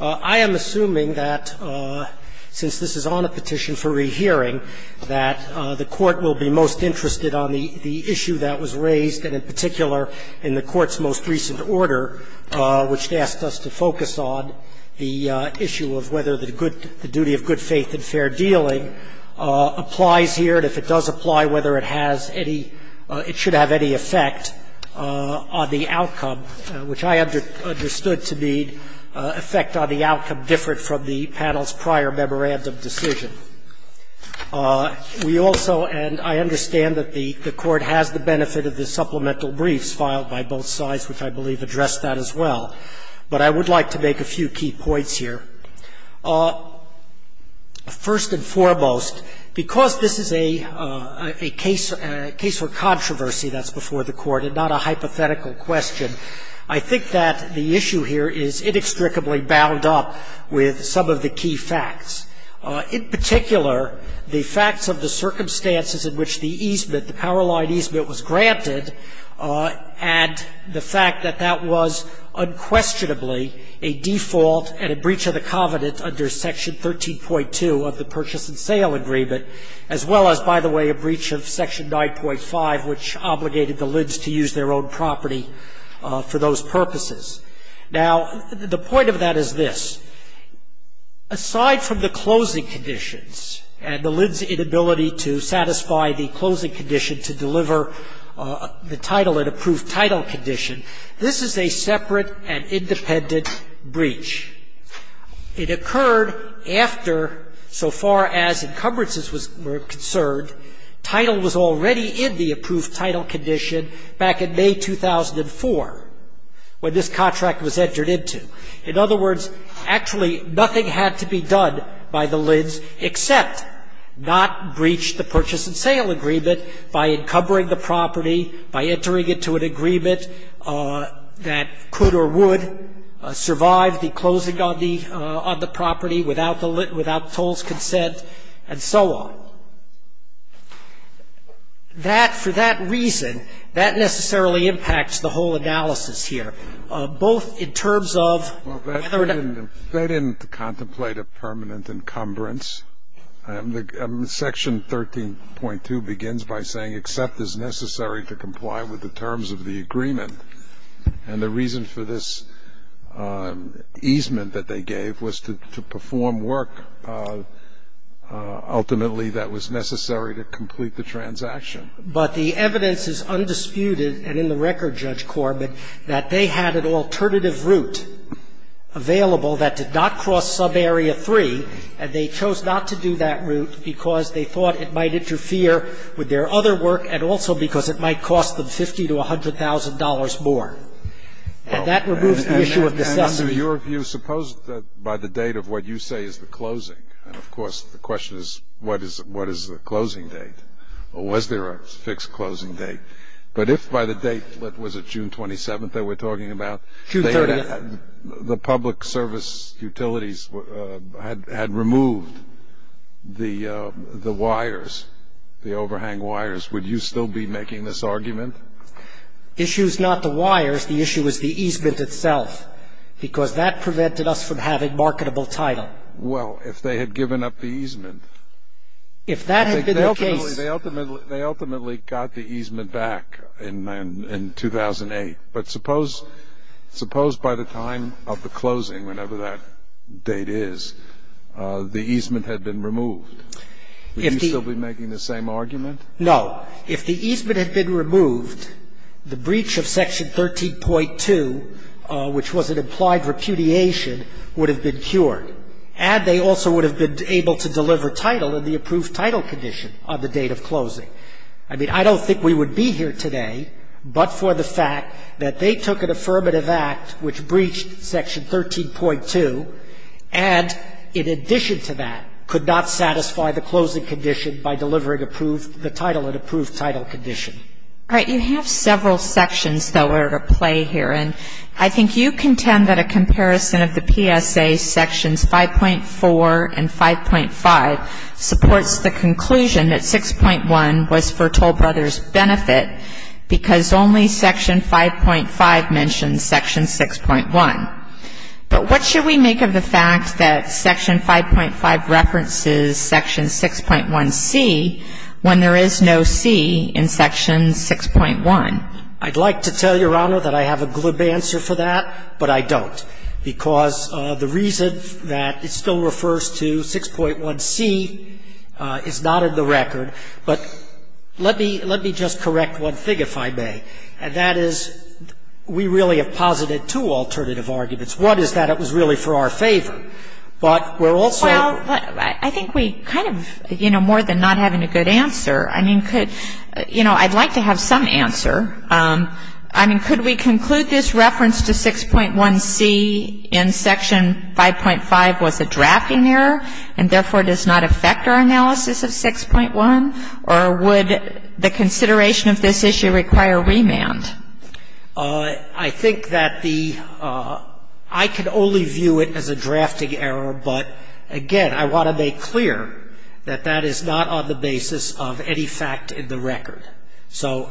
I am assuming that, since this is on a petition for rehearing, that the Court will be most interested on the issue that was raised, and in particular, in the Court's most recent order, which asked us to focus on the issue of whether the duty of good faith and fair dealing applies here. We also, and I understand that the Court has the benefit of the supplemental briefs filed by both sides, which I believe address that as well, but I would like to make a few key points here. First and foremost, because this is a case for controversy that's before the Court and not a hypothetical question, I think that the issue here is inextricably bound up with some of the key facts. In particular, the facts of the circumstances in which the easement, the power-line easement, was granted, and the fact that that was unquestionably a default and a breach of the covenant under Section 13.2 of the Purchase and Sale Agreement, as well as, by the way, a breach of Section 9.5, which obligated the lids to use their own property for those purposes. Now, the point of that is this. Aside from the closing conditions and the lids' inability to satisfy the closing condition to deliver the title, an approved title condition, this is a separate and independent breach. It occurred after, so far as encumbrances were concerned, title was already in the approved title condition back in May 2004, when this contract was entered into. In other words, actually, nothing had to be done by the lids except not breach the Purchase and Sale Agreement by encumbering the property, by entering it to an agreement that could or would survive the closing on the property without tolls' consent, and so on. So that, for that reason, that necessarily impacts the whole analysis here, both in terms of whether or not- Well, they didn't contemplate a permanent encumbrance. Section 13.2 begins by saying except as necessary to comply with the terms of the agreement. And the reason for this easement that they gave was to perform work ultimately that was necessary to complete the transaction. But the evidence is undisputed, and in the record, Judge Corbett, that they had an alternative route available that did not cross subarea 3, and they chose not to do that route because they thought it might interfere with their other work and also because it might cost them $50,000 to $100,000 more. And that removes the issue of necessity. And to your view, suppose that by the date of what you say is the closing, and, of course, the question is, what is the closing date? Or was there a fixed closing date? But if by the date, was it June 27th that we're talking about? June 30th. The public service utilities had removed the wires, the overhang wires. Would you still be making this argument? The issue is not the wires. The issue is the easement itself because that prevented us from having marketable title. Well, if they had given up the easement- If that had been the case- They ultimately got the easement back in 2008. But suppose by the time of the closing, whenever that date is, the easement had been removed. Would you still be making the same argument? No. If the easement had been removed, the breach of Section 13.2, which was an implied repudiation, would have been cured. And they also would have been able to deliver title in the approved title condition on the date of closing. I mean, I don't think we would be here today but for the fact that they took an affirmative act which breached Section 13.2 and, in addition to that, could not satisfy the closing condition by delivering approved, the title in approved title condition. All right. You have several sections, though, that are at play here. And I think you contend that a comparison of the PSA Sections 5.4 and 5.5 supports the conclusion that 6.1 was for Toll Brothers' benefit because only Section 5.5 mentions Section 6.1. But what should we make of the fact that Section 5.5 references Section 6.1c when there is no c in Section 6.1? I'd like to tell Your Honor that I have a glib answer for that, but I don't. Because the reason that it still refers to 6.1c is not in the record. But let me just correct one thing, if I may. And that is we really have posited two alternative arguments. One is that it was really for our favor. But we're also ---- Well, I think we kind of, you know, more than not having a good answer, I mean, could You know, I'd like to have some answer. I mean, could we conclude this reference to 6.1c in Section 5.5 was a drafting error and therefore does not affect our analysis of 6.1? Or would the consideration of this issue require remand? I think that the ---- I can only view it as a drafting error. But again, I want to make clear that that is not on the basis of any fact in the record. So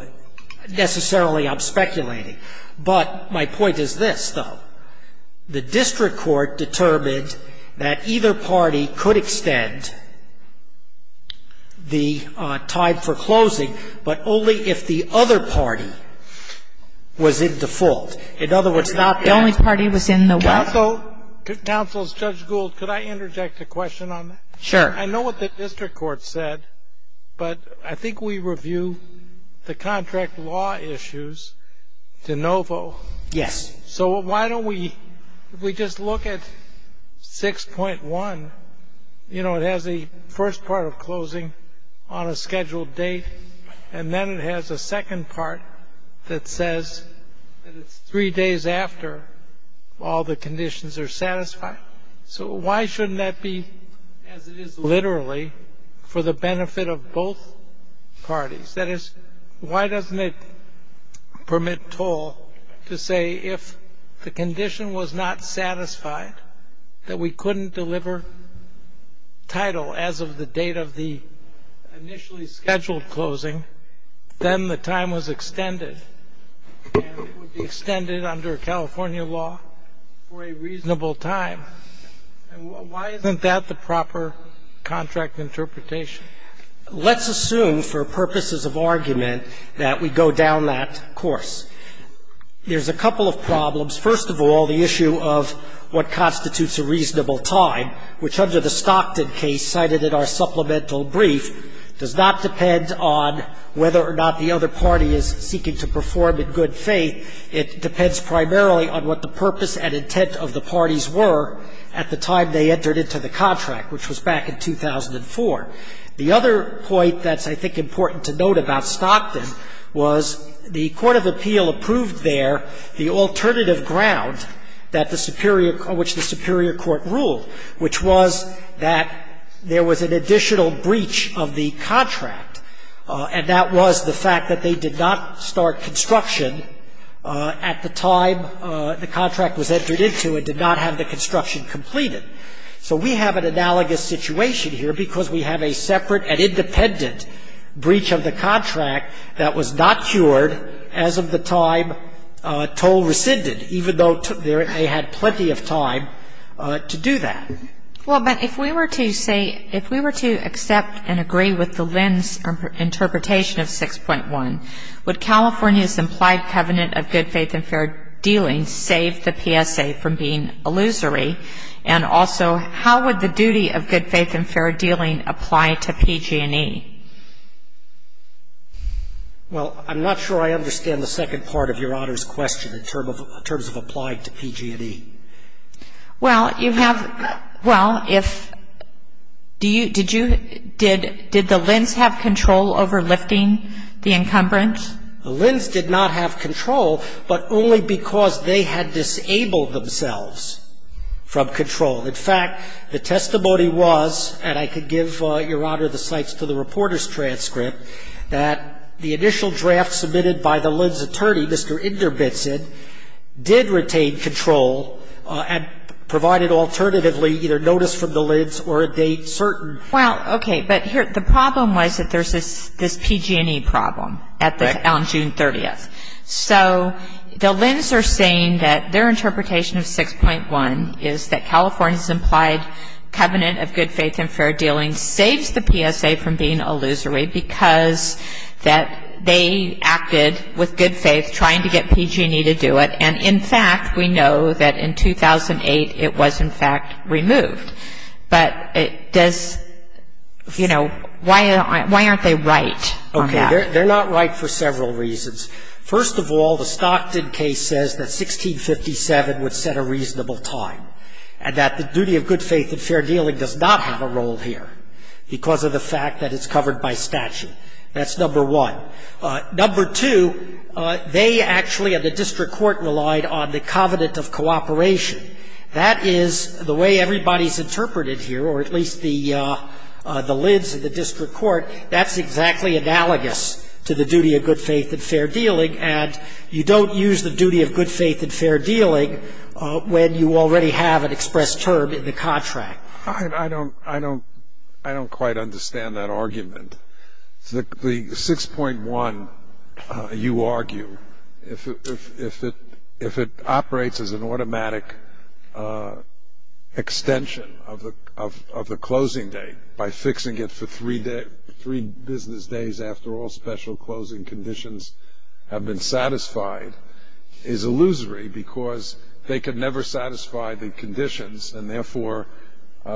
necessarily I'm speculating. But my point is this, though. The district court determined that either party could extend the time for closing, but only if the other party was in default. In other words, not the only party was in the way. Also, counsel, Judge Gould, could I interject a question on that? Sure. I know what the district court said, but I think we review the contract law issues to NOFO. Yes. So why don't we just look at 6.1. You know, it has the first part of closing on a scheduled date, and then it has a second part that says that it's three days after all the conditions are satisfied. So why shouldn't that be, as it is literally, for the benefit of both parties? That is, why doesn't it permit toll to say if the condition was not satisfied, that we couldn't deliver title as of the date of the initially scheduled closing, then the time was extended, and it would be extended under California law for a reasonable time? And why isn't that the proper contract interpretation? Let's assume for purposes of argument that we go down that course. There's a couple of problems. First of all, the issue of what constitutes a reasonable time, which under the Stockton case cited in our supplemental brief, does not depend on whether or not the other party is seeking to perform in good faith. It depends primarily on what the purpose and intent of the parties were at the time they entered into the contract, which was back in 2004. The other point that's, I think, important to note about Stockton was the court of appeal approved there the alternative ground on which the superior court ruled, which was that there was an additional breach of the contract, and that was the fact that they did not start construction at the time the contract was entered into and did not have the construction completed. So we have an analogous situation here because we have a separate and independent breach of the contract that was not cured as of the time toll rescinded, even though they had plenty of time to do that. Well, but if we were to say, if we were to accept and agree with the Lynn's interpretation of 6.1, would California's implied covenant of good faith and fair dealing save the PSA from being illusory? And also, how would the duty of good faith and fair dealing apply to PG&E? Well, I'm not sure I understand the second part of Your Honor's question in terms of applied to PG&E. Well, you have ñ well, if ñ did you ñ did the Lynn's have control over lifting the encumbrance? The Lynn's did not have control, but only because they had disabled themselves from control. In fact, the testimony was, and I could give, Your Honor, the cites to the reporter's transcript, that the initial draft submitted by the Lynn's attorney, Mr. Inderbitzen, did retain control and provided alternatively either notice from the Lynn's or a date certain. Well, okay. But here, the problem was that there's this PG&E problem at the ñ on June 30th. So the Lynn's are saying that their interpretation of 6.1 is that California's implied covenant of good faith and fair dealing saves the PSA from being illusory because that they acted with good faith trying to get PG&E to do it. And, in fact, we know that in 2008 it was, in fact, removed. But does ñ you know, why aren't they right on that? Okay. They're not right for several reasons. First of all, the Stockton case says that 1657 would set a reasonable time and that the duty of good faith and fair dealing does not have a role here because of the fact that it's covered by statute. That's number one. Number two, they actually at the district court relied on the covenant of cooperation. That is the way everybody's interpreted here, or at least the Lynn's at the district court. That's exactly analogous to the duty of good faith and fair dealing. And you don't use the duty of good faith and fair dealing when you already have an expressed term in the contract. I don't ñ I don't ñ I don't quite understand that argument. The 6.1, you argue, if it operates as an automatic extension of the closing date by fixing it for three business days after all special closing conditions have been satisfied, is illusory because they could never satisfy the conditions and therefore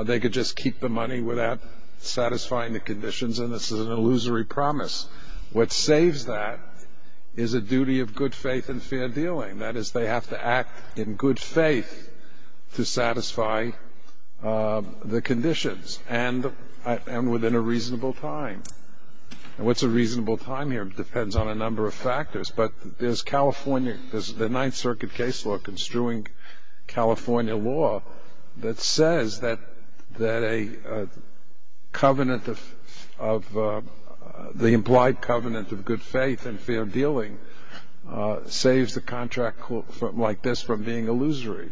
they could just keep the money without satisfying the conditions, and this is an illusory promise. What saves that is a duty of good faith and fair dealing. That is, they have to act in good faith to satisfy the conditions and within a reasonable time. And what's a reasonable time here depends on a number of factors, but there's California ñ there's the Ninth Circuit case law construing California law that says that a covenant of ñ the implied covenant of good faith and fair dealing saves a contract like this from being illusory.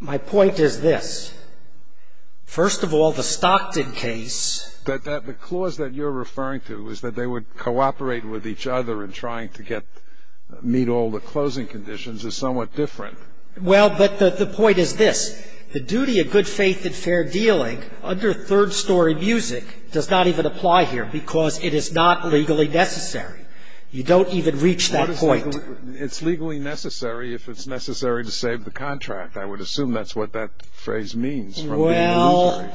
My point is this. First of all, the Stockton case ñ The clause that you're referring to is that they would cooperate with each other in trying to get ñ meet all the closing conditions is somewhat different. Well, but the point is this. The duty of good faith and fair dealing under third story music does not even apply here because it is not legally necessary. You don't even reach that point. It's legally necessary if it's necessary to save the contract. I would assume that's what that phrase means, from being illusory.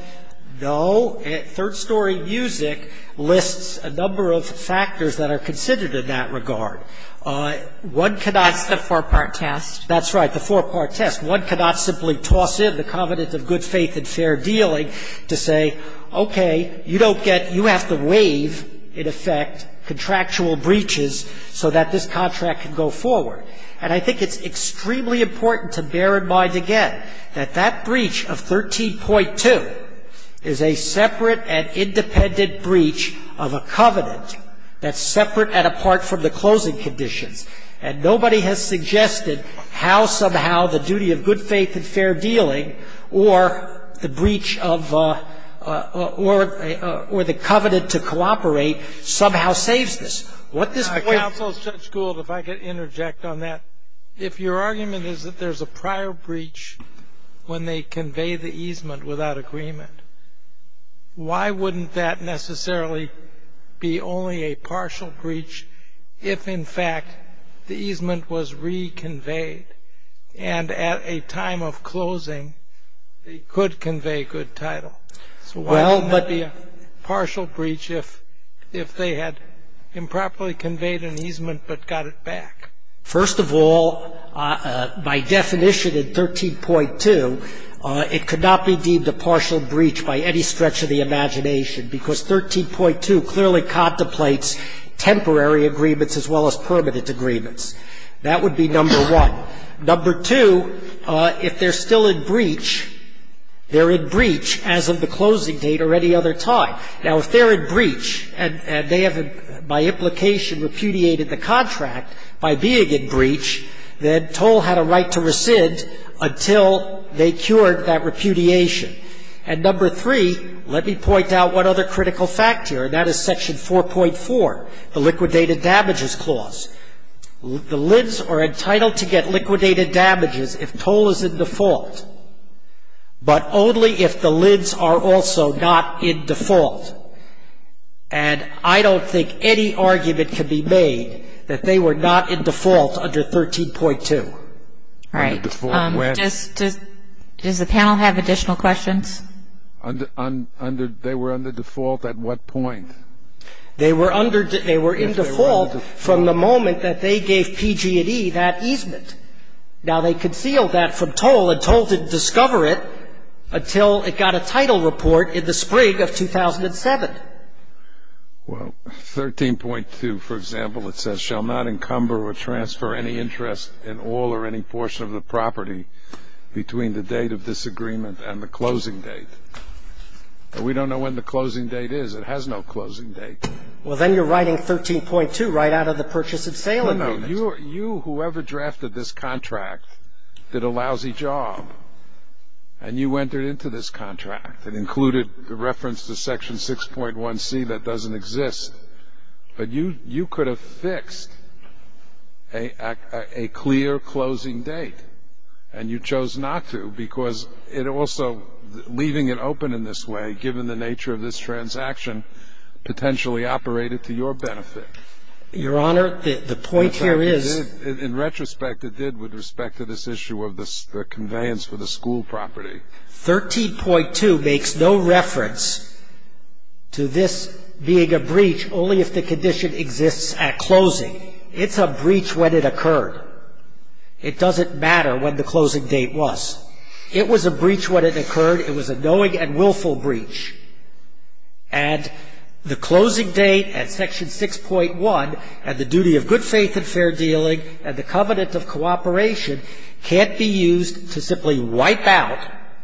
No. Third story music lists a number of factors that are considered in that regard. One cannot ñ That's the four-part test. That's right, the four-part test. One cannot simply toss in the covenant of good faith and fair dealing to say, okay, you don't get ñ you have to waive, in effect, contractual breaches so that this contract can go forward. And I think it's extremely important to bear in mind, again, that that breach of 13.2 is a separate and independent breach of a covenant that's separate and apart from the closing conditions. And nobody has suggested how somehow the duty of good faith and fair dealing or the breach of ñ or the covenant to cooperate somehow saves this. What this point ñ Judge Gould, if I could interject on that. If your argument is that there's a prior breach when they convey the easement without agreement, why wouldn't that necessarily be only a partial breach if, in fact, the easement was reconveyed? And at a time of closing, it could convey good title. So why wouldn't that be a partial breach if they had improperly conveyed an easement but got it back? First of all, by definition in 13.2, it could not be deemed a partial breach by any stretch of the imagination because 13.2 clearly contemplates temporary agreements as well as permanent agreements. That would be number one. Number two, if they're still in breach, they're in breach as of the closing date or any other time. Now, if they're in breach and they have, by implication, repudiated the contract by being in breach, then Toll had a right to rescind until they cured that repudiation. And number three, let me point out one other critical factor, and that is Section 4.4, the Liquidated Damages Clause. The LIDs are entitled to get liquidated damages if toll is in default, but only if the LIDs are also not in default. And I don't think any argument can be made that they were not in default under 13.2. All right. Does the panel have additional questions? They were under default at what point? They were in default from the moment that they gave PG&E that easement. Now, they concealed that from Toll, and Toll didn't discover it until it got a title report in the spring of 2007. Well, 13.2, for example, it says, shall not encumber or transfer any interest in all or any portion of the property between the date of disagreement and the closing date. We don't know when the closing date is. It has no closing date. Well, then you're writing 13.2 right out of the purchase and sale amendment. No. You, whoever drafted this contract, did a lousy job, and you entered into this contract and included the reference to Section 6.1c that doesn't exist. But you could have fixed a clear closing date, and you chose not to because it also, leaving it open in this way, given the nature of this transaction, potentially operated to your benefit. Your Honor, the point here is. In retrospect, it did with respect to this issue of the conveyance for the school property. 13.2 makes no reference to this being a breach only if the condition exists at closing. It's a breach when it occurred. It doesn't matter when the closing date was. It was a breach when it occurred. It was a knowing and willful breach. And the closing date at Section 6.1, and the duty of good faith and fair dealing, and the covenant of cooperation can't be used to simply wipe out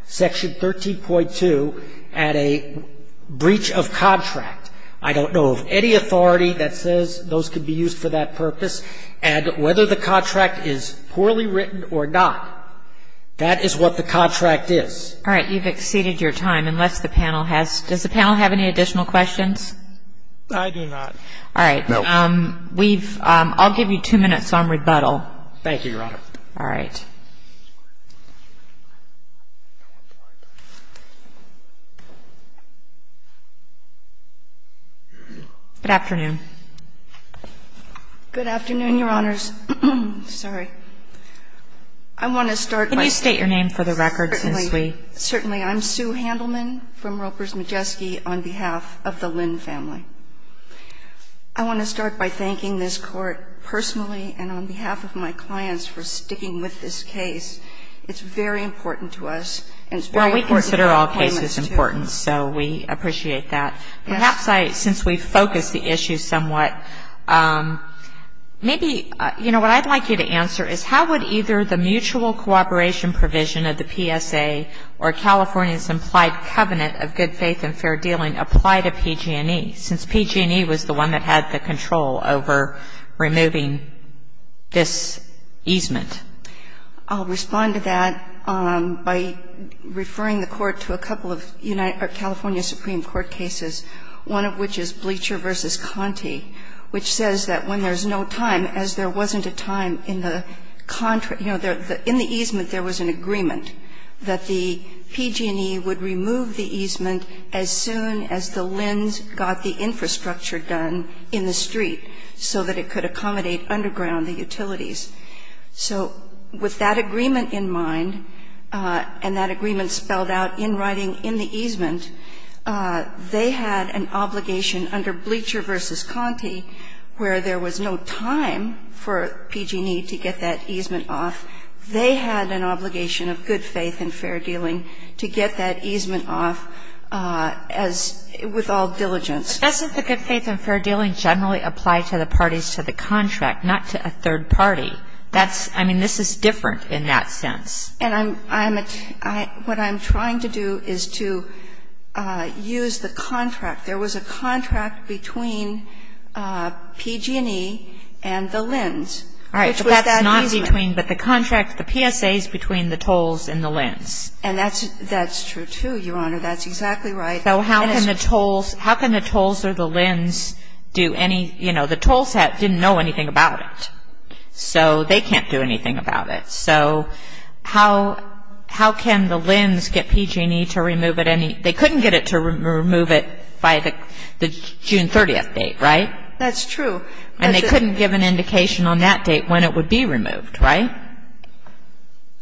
Section 13.2 at a breach of contract. I don't know of any authority that says those could be used for that purpose. And whether the contract is poorly written or not, that is what the contract is. All right. You've exceeded your time, unless the panel has. Does the panel have any additional questions? I do not. All right. No. We've. I'll give you two minutes on rebuttal. Thank you, Your Honor. All right. Good afternoon. Good afternoon, Your Honors. Sorry. I want to start by. Can you state your name for the record since we. Certainly. Certainly. I'm Sue Handelman from Ropers Majeski on behalf of the Lynn family. I want to start by thanking this Court personally and on behalf of my clients for sticking with this case. It's very important to us. Well, we consider all cases important, so we appreciate that. Perhaps I, since we've focused the issue somewhat, maybe, you know, what I'd like you to answer is how would either the mutual cooperation provision of the PSA or California's implied covenant of good faith and fair dealing apply to PG&E, since PG&E was the one that had the control over removing this easement? I'll respond to that by referring the Court to a couple of California Supreme Court documents. The first one is the PG&E, which says that when there's no time, as there wasn't a time in the, you know, in the easement there was an agreement that the PG&E would remove the easement as soon as the Lynn's got the infrastructure done in the street so that it could accommodate underground the utilities. So with that agreement in mind and that agreement spelled out in writing in the easement, they had an obligation under Bleacher v. Conte where there was no time for PG&E to get that easement off. They had an obligation of good faith and fair dealing to get that easement off as, with all diligence. But doesn't the good faith and fair dealing generally apply to the parties to the contract, not to a third party? That's, I mean, this is different in that sense. And I'm, what I'm trying to do is to use the contract. There was a contract between PG&E and the Lynn's, which was that easement. All right. But that's not between, but the contract, the PSA is between the Tolles and the Lynn's. And that's true, too, Your Honor. That's exactly right. So how can the Tolles, how can the Tolles or the Lynn's do any, you know, the Tolles didn't know anything about it. So they can't do anything about it. So how can the Lynn's get PG&E to remove it any, they couldn't get it to remove it by the June 30th date, right? That's true. And they couldn't give an indication on that date when it would be removed, right?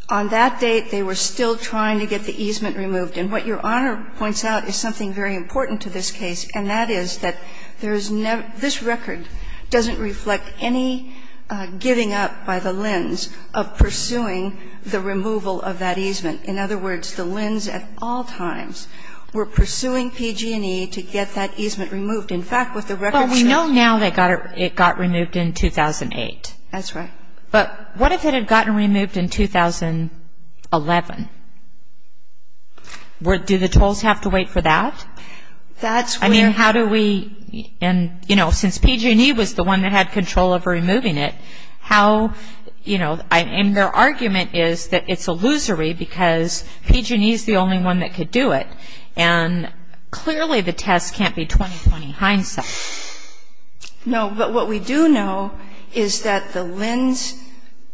On that date, they were still trying to get the easement removed. And what Your Honor points out is something very important to this case, and that is that there is no, this record doesn't reflect any giving up by the Lynn's of pursuing the removal of that easement. In other words, the Lynn's at all times were pursuing PG&E to get that easement removed. In fact, what the record says. Well, we know now it got removed in 2008. That's right. But what if it had gotten removed in 2011? Do the Tolles have to wait for that? That's where. I mean, how do we, and, you know, since PG&E was the one that had control over removing it, how, you know, and their argument is that it's illusory because PG&E is the only one that could do it. And clearly the test can't be 20-20 hindsight. No. But what we do know is that the Lynn's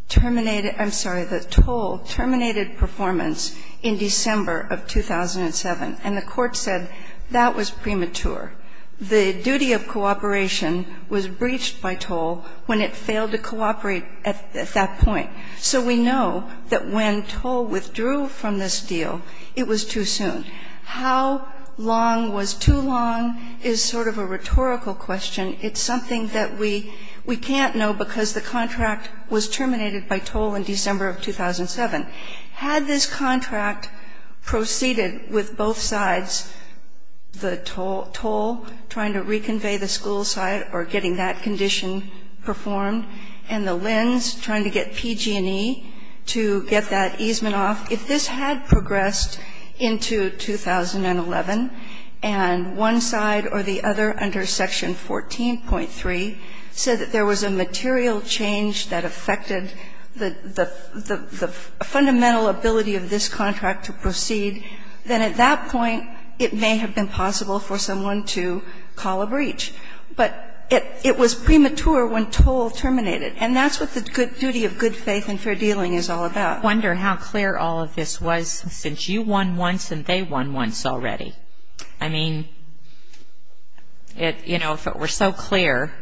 terminated, I'm sorry, the Tolles terminated performance in December of 2007. And the court said that was premature. The duty of cooperation was breached by Tolles when it failed to cooperate at that point. So we know that when Tolles withdrew from this deal, it was too soon. How long was too long is sort of a rhetorical question. It's something that we can't know because the contract was terminated by Tolles in December of 2007. Had this contract proceeded with both sides, the Tolle trying to reconvey the school side or getting that condition performed, and the Lynn's trying to get PG&E to get that easement off, if this had progressed into 2011 and one side or the other under Section 14.3 said that there was a material change that affected the faculty of this contract to proceed, then at that point it may have been possible for someone to call a breach. But it was premature when Tolles terminated. And that's what the duty of good faith and fair dealing is all about. I wonder how clear all of this was since you won once and they won once already. I mean, you know, if it were so clear,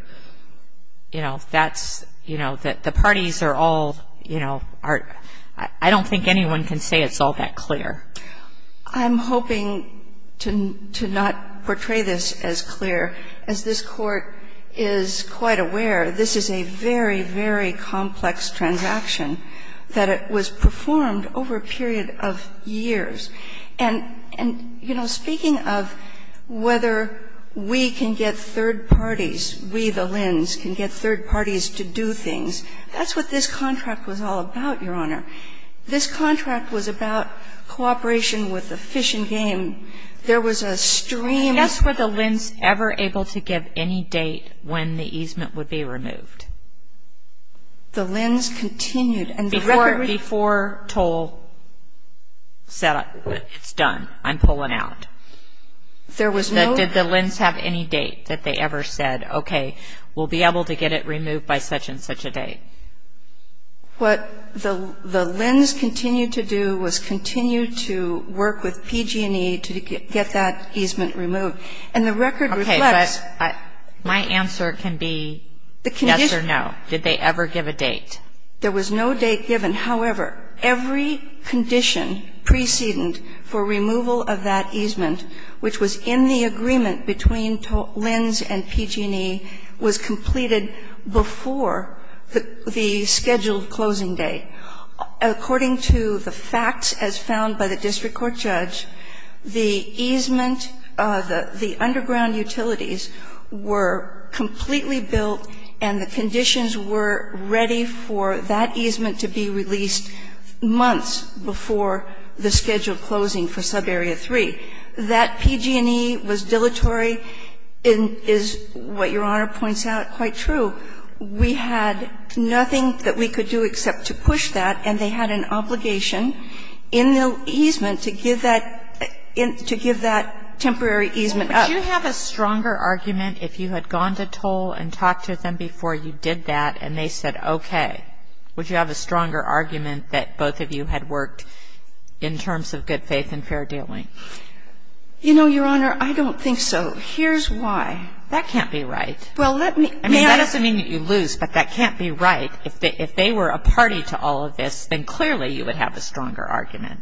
you know, that's, you know, that the parties are all, you know, I don't think anyone can say it's all that clear. I'm hoping to not portray this as clear. As this Court is quite aware, this is a very, very complex transaction that was performed over a period of years. And, you know, speaking of whether we can get third parties, we the Lynn's, can get third parties. I mean, I don't think that this contract was all about, Your Honor. This contract was about cooperation with the fish and game. There was a stream. Were the Lynn's ever able to give any date when the easement would be removed? The Lynn's continued. Before Tolles said it's done, I'm pulling out. There was no. Did the Lynn's have any date that they ever said, okay, we'll be able to get it removed by such and such a date? What the Lynn's continued to do was continue to work with PG&E to get that easement removed. And the record reflects. Okay. But my answer can be yes or no. Did they ever give a date? There was no date given. And, however, every condition precedent for removal of that easement, which was in the agreement between Lynn's and PG&E, was completed before the scheduled closing date. According to the facts as found by the district court judge, the easement, the underground utilities were completely built and the conditions were ready for that easement to be released months before the scheduled closing for subarea 3. That PG&E was dilatory is what Your Honor points out quite true. We had nothing that we could do except to push that, and they had an obligation in the easement to give that temporary easement up. Would you have a stronger argument if you had gone to Tolles and talked to them before you did that and they said okay? Would you have a stronger argument that both of you had worked in terms of good faith and fair dealing? You know, Your Honor, I don't think so. Here's why. That can't be right. I mean, that doesn't mean that you lose, but that can't be right. If they were a party to all of this, then clearly you would have a stronger argument.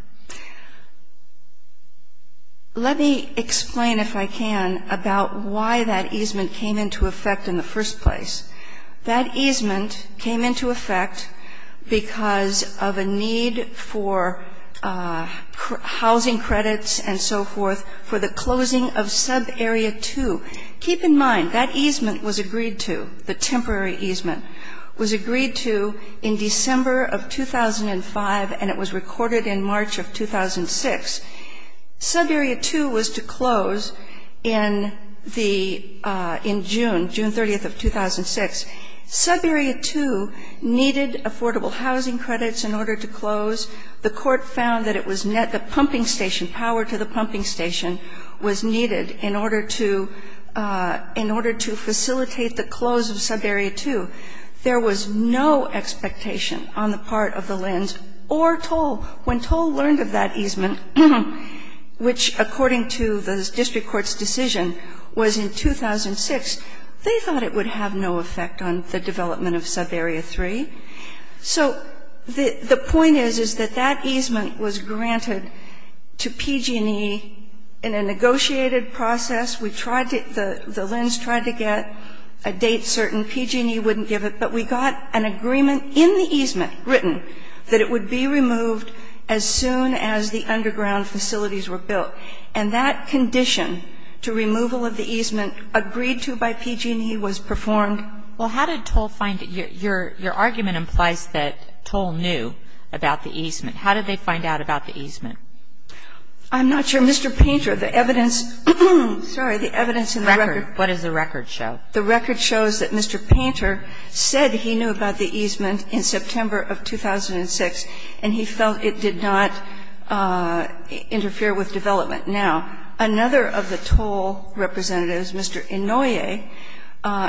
Let me explain, if I can, about why that easement came into effect in the first place. That easement came into effect because of a need for housing credits and so forth for the closing of subarea 2. Keep in mind, that easement was agreed to, the temporary easement, was agreed to in December of 2005, and it was recorded in March of 2006. Subarea 2 was to close in the ‑‑ in June, June 30th of 2006. Subarea 2 needed affordable housing credits in order to close. The court found that it was ‑‑ the pumping station, power to the pumping station was needed in order to facilitate the close of subarea 2. There was no expectation on the part of the LHINs or Tolles. When Tolles learned of that easement, which according to the district court's decision was in 2006, they thought it would have no effect on the development of subarea 3. So the point is, is that that easement was granted to PG&E in a negotiated process. We tried to ‑‑ the LHINs tried to get a date certain. PG&E wouldn't give it. But we got an agreement in the easement written that it would be removed as soon as the underground facilities were built, and that condition to removal of the easement agreed to by PG&E was performed. Well, how did Tolles find it? Your argument implies that Tolles knew about the easement. How did they find out about the easement? I'm not sure. Mr. Painter, the evidence ‑‑ sorry, the evidence in the record. What does the record show? The record shows that Mr. Painter said he knew about the easement in September of 2006, and he felt it did not interfere with development. Now, another of the Tolles representatives, Mr. Inouye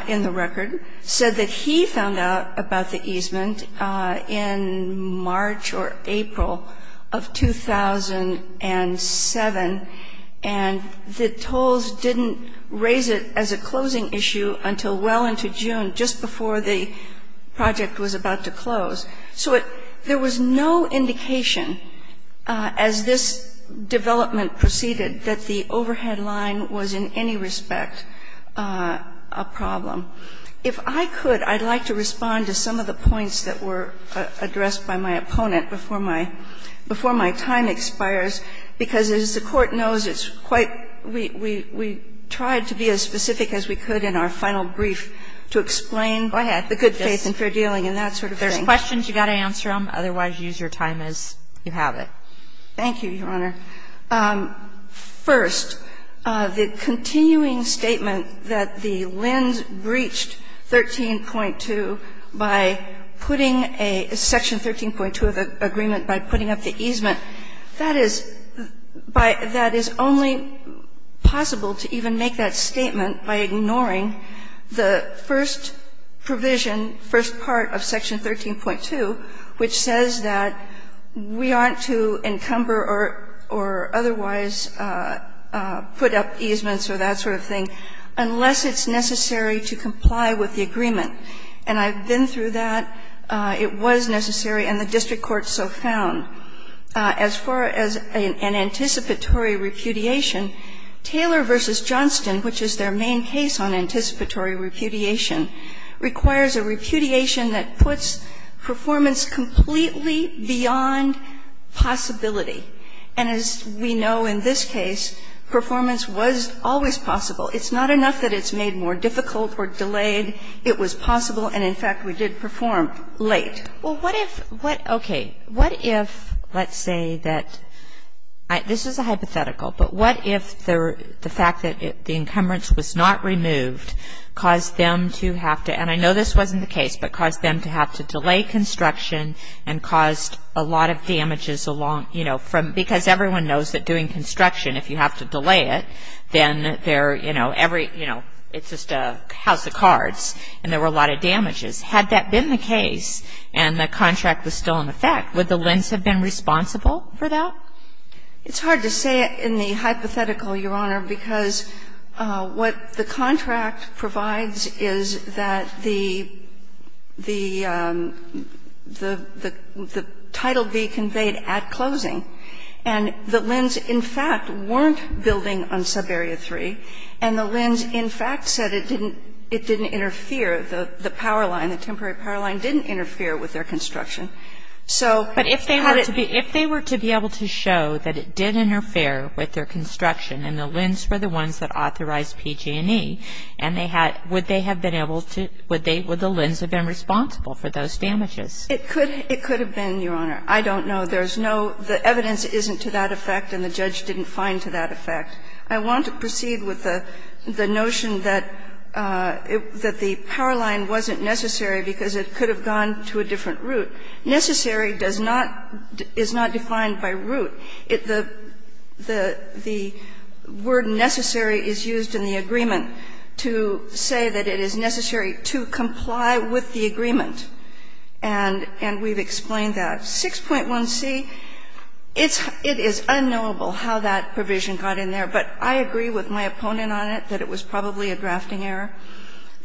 in the record, said that he found out about the easement in March or April of 2007, and that Tolles didn't raise it as a closing issue until well into June, just before the project was about to close. So there was no indication as this development proceeded that the overhead line was in any respect a problem. If I could, I'd like to respond to some of the points that were addressed by my opponent before my time expires, because, as the Court knows, it's quite ‑‑ we tried to be as specific as we could in our final brief to explain the good faith and fair dealing and that sort of thing. There's questions. You've got to answer them. Otherwise, use your time as you have it. Thank you, Your Honor. First, the continuing statement that the Lins breached 13.2 by putting a section 13.2 of the agreement by putting up the easement, that is only possible to even make that statement by ignoring the first provision, first part of section 13.2, which says that we aren't to encumber or otherwise put up easements or that sort of thing unless it's necessary to comply with the agreement. And I've been through that. It was necessary, and the district court so found. As far as an anticipatory repudiation, Taylor v. Johnston, which is their main case on anticipatory repudiation, requires a repudiation that puts performance completely beyond possibility. And as we know in this case, performance was always possible. It's not enough that it's made more difficult or delayed. It was possible, and, in fact, we did perform late. Well, what if what, okay. What if, let's say that, this is a hypothetical, but what if the fact that the encumbrance was not removed caused them to have to, and I know this wasn't the case, but caused them to have to delay construction and caused a lot of damages along, you know, from, because everyone knows that doing construction, if you have to delay it, then there, you know, every, you know, it's just a house of cards, and there were a lot of damages. Had that been the case and the contract was still in effect, would the LHINs have been responsible for that? It's hard to say in the hypothetical, Your Honor, because what the contract provides is that the, the Title V conveyed at closing, and the LHINs, in fact, weren't building on Subarea 3, and the LHINs, in fact, said it didn't interfere, the power line, the temporary power line didn't interfere with their construction. So it's hard to say. But if they were to be able to show that it did interfere with their construction and the LHINs were the ones that authorized PG&E, and they had, would they have been able to, would they, would the LHINs have been responsible for those damages? It could have been, Your Honor. I don't know. There's no, the evidence isn't to that effect and the judge didn't find to that effect. I want to proceed with the notion that the power line wasn't necessary because it could have gone to a different route. Necessary does not, is not defined by route. The word necessary is used in the agreement to say that it is necessary to comply with the agreement. And we've explained that. 6.1c, it's, it is unknowable how that provision got in there. But I agree with my opponent on it, that it was probably a drafting error.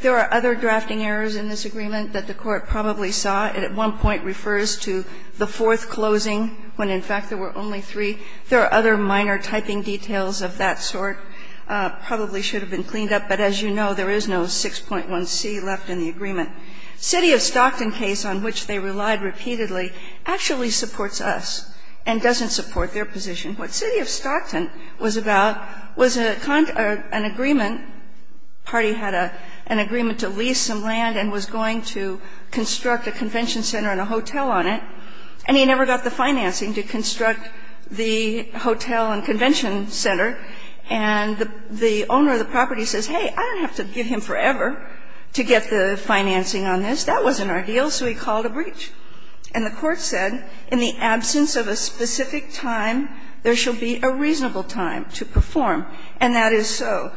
There are other drafting errors in this agreement that the Court probably saw. It at one point refers to the fourth closing when, in fact, there were only three. There are other minor typing details of that sort. Probably should have been cleaned up. But as you know, there is no 6.1c left in the agreement. 6.1c, it's, it is unknowable how that provision got in there. There are other drafting errors in this agreement. City of Stockton case on which they relied repeatedly actually supports us and doesn't support their position. What City of Stockton was about was an agreement, party had an agreement to lease some land and was going to construct a convention center and a hotel on it, and he never got the financing to construct the hotel and convention center, and the owner of the property says, hey, I don't have to give him forever to get the financing on this, that wasn't our deal, so he called a breach. And the Court said, in the absence of a specific time, there should be a reasonable time to perform. And that is so.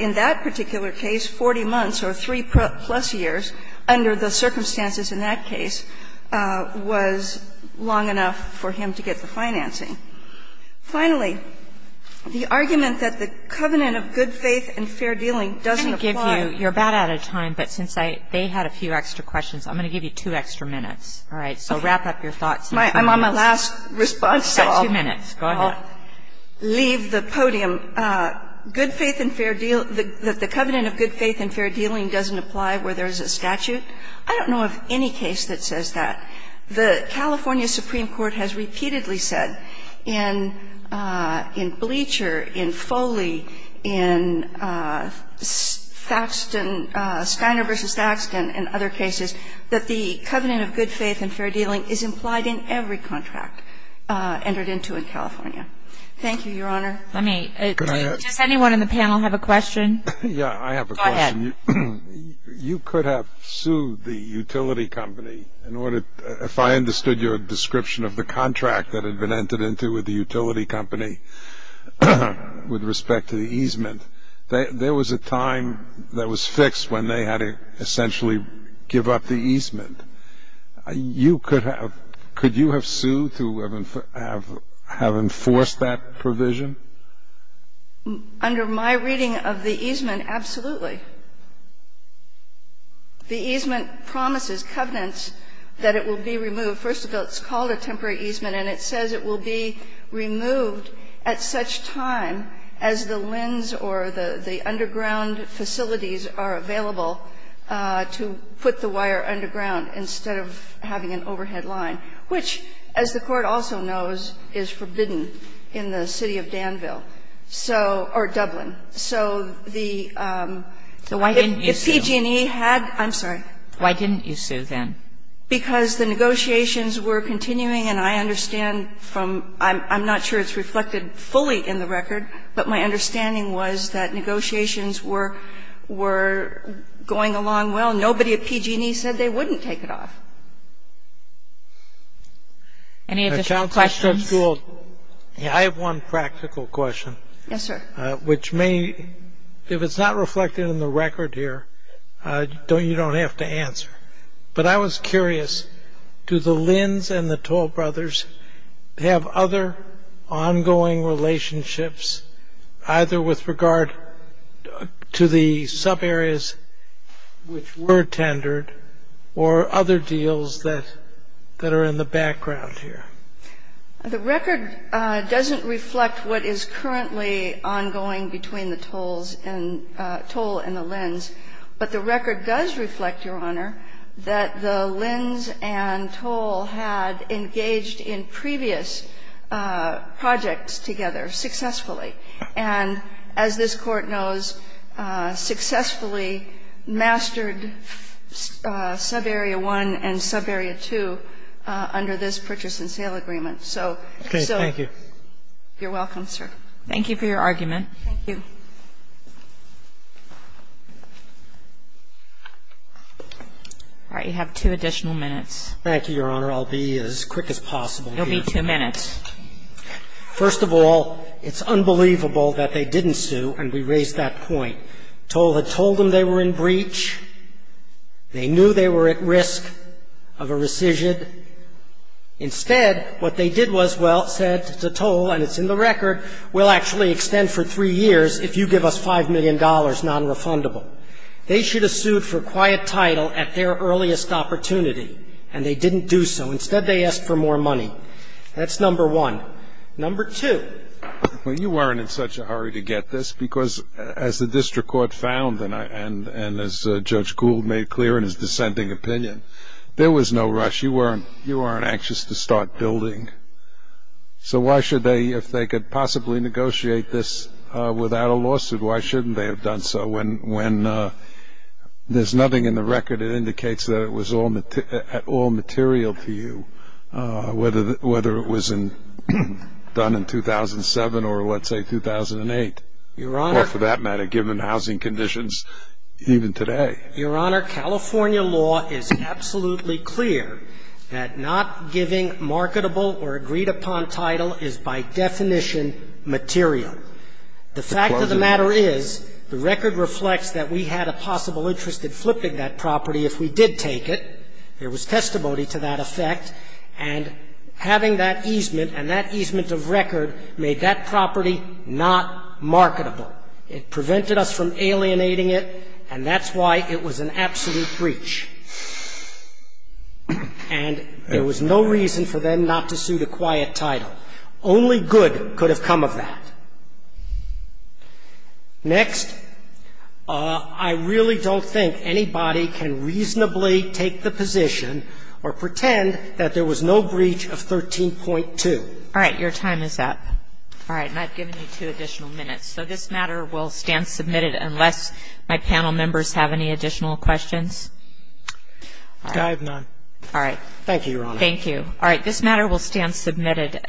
In that particular case, 40 months or three-plus years under the circumstances in that case was long enough for him to get the financing. Finally, the argument that the covenant of good faith and fair dealing doesn't apply. Kagan. You're about out of time, but since they had a few extra questions, I'm going to give you two extra minutes. All right. So wrap up your thoughts. I'm on my last response, so I'll leave the podium. Good faith and fair deal, that the covenant of good faith and fair dealing doesn't apply where there's a statute. I don't know of any case that says that. The California Supreme Court has repeatedly said in Bleacher, in Foley, in Thaxton --"Steiner v. Thaxton," and other cases, that the covenant of good faith and fair dealing is implied in every contract entered into in California. Thank you, Your Honor. Let me add to that. Does anyone in the panel have a question? Yeah, I have a question. Go ahead. You could have sued the utility company in order, if I understood your description of the contract that had been entered into with the utility company with respect to the easement, there was a time that was fixed when they had to essentially give up the easement. You could have, could you have sued to have enforced that provision? Under my reading of the easement, absolutely. The easement promises covenants that it will be removed. First of all, it's called a temporary easement, and it says it will be removed at such time as the LHINs or the underground facilities are available to put the wire underground instead of having an overhead line, which, as the Court also knows, is forbidden in the city of Danville, so, or Dublin. So the, if PG&E had, I'm sorry. Why didn't you sue then? Because the negotiations were continuing, and I understand from, I'm not sure it's reflected fully in the record, but my understanding was that negotiations were going along well. Nobody at PG&E said they wouldn't take it off. Any additional questions? Counselor Struxtool, I have one practical question. Yes, sir. Which may, if it's not reflected in the record here, you don't have to answer. But I was curious, do the LHINs and the Toll Brothers have other ongoing relationships, either with regard to the subareas which were tendered or other deals that are in the background here? The record doesn't reflect what is currently ongoing between the Tolls and, Toll and the LHINs, but the record does reflect, Your Honor, that the LHINs and Toll had engaged in previous projects together successfully. And as this Court knows, successfully mastered subarea 1 and subarea 2 under this purchase and sale agreement. Okay. Thank you. You're welcome, sir. Thank you for your argument. Thank you. All right. You have two additional minutes. Thank you, Your Honor. I'll be as quick as possible here. You'll be two minutes. First of all, it's unbelievable that they didn't sue, and we raised that point. Toll had told them they were in breach. They knew they were at risk of a rescission. Instead, what they did was, well, said to Toll, and it's in the record, we'll actually extend for three years if you give us $5 million nonrefundable. They should have sued for quiet title at their earliest opportunity, and they didn't do so. Instead, they asked for more money. That's number one. Number two. Well, you weren't in such a hurry to get this because, as the district court found and as Judge Gould made clear in his dissenting opinion, there was no rush. You weren't anxious to start building. So why should they, if they could possibly negotiate this without a lawsuit, why shouldn't they have done so when there's nothing in the record that indicates that it was at all material to you, whether it was done in 2007 or, let's say, 2008, or, for that matter, given housing conditions even today? Your Honor, California law is absolutely clear that not giving marketable or agreed upon title is, by definition, material. The fact of the matter is the record reflects that we had a possible interest in flipping that property if we did take it. There was testimony to that effect. And having that easement and that easement of record made that property not marketable. It prevented us from alienating it, and that's why it was an absolute breach. And there was no reason for them not to sue the quiet title. Only good could have come of that. Next. I really don't think anybody can reasonably take the position or pretend that there was no breach of 13.2. All right. Your time is up. All right. And I've given you two additional minutes. So this matter will stand submitted unless my panel members have any additional questions. I have none. All right. Thank you, Your Honor. Thank you. All right. This matter will stand submitted.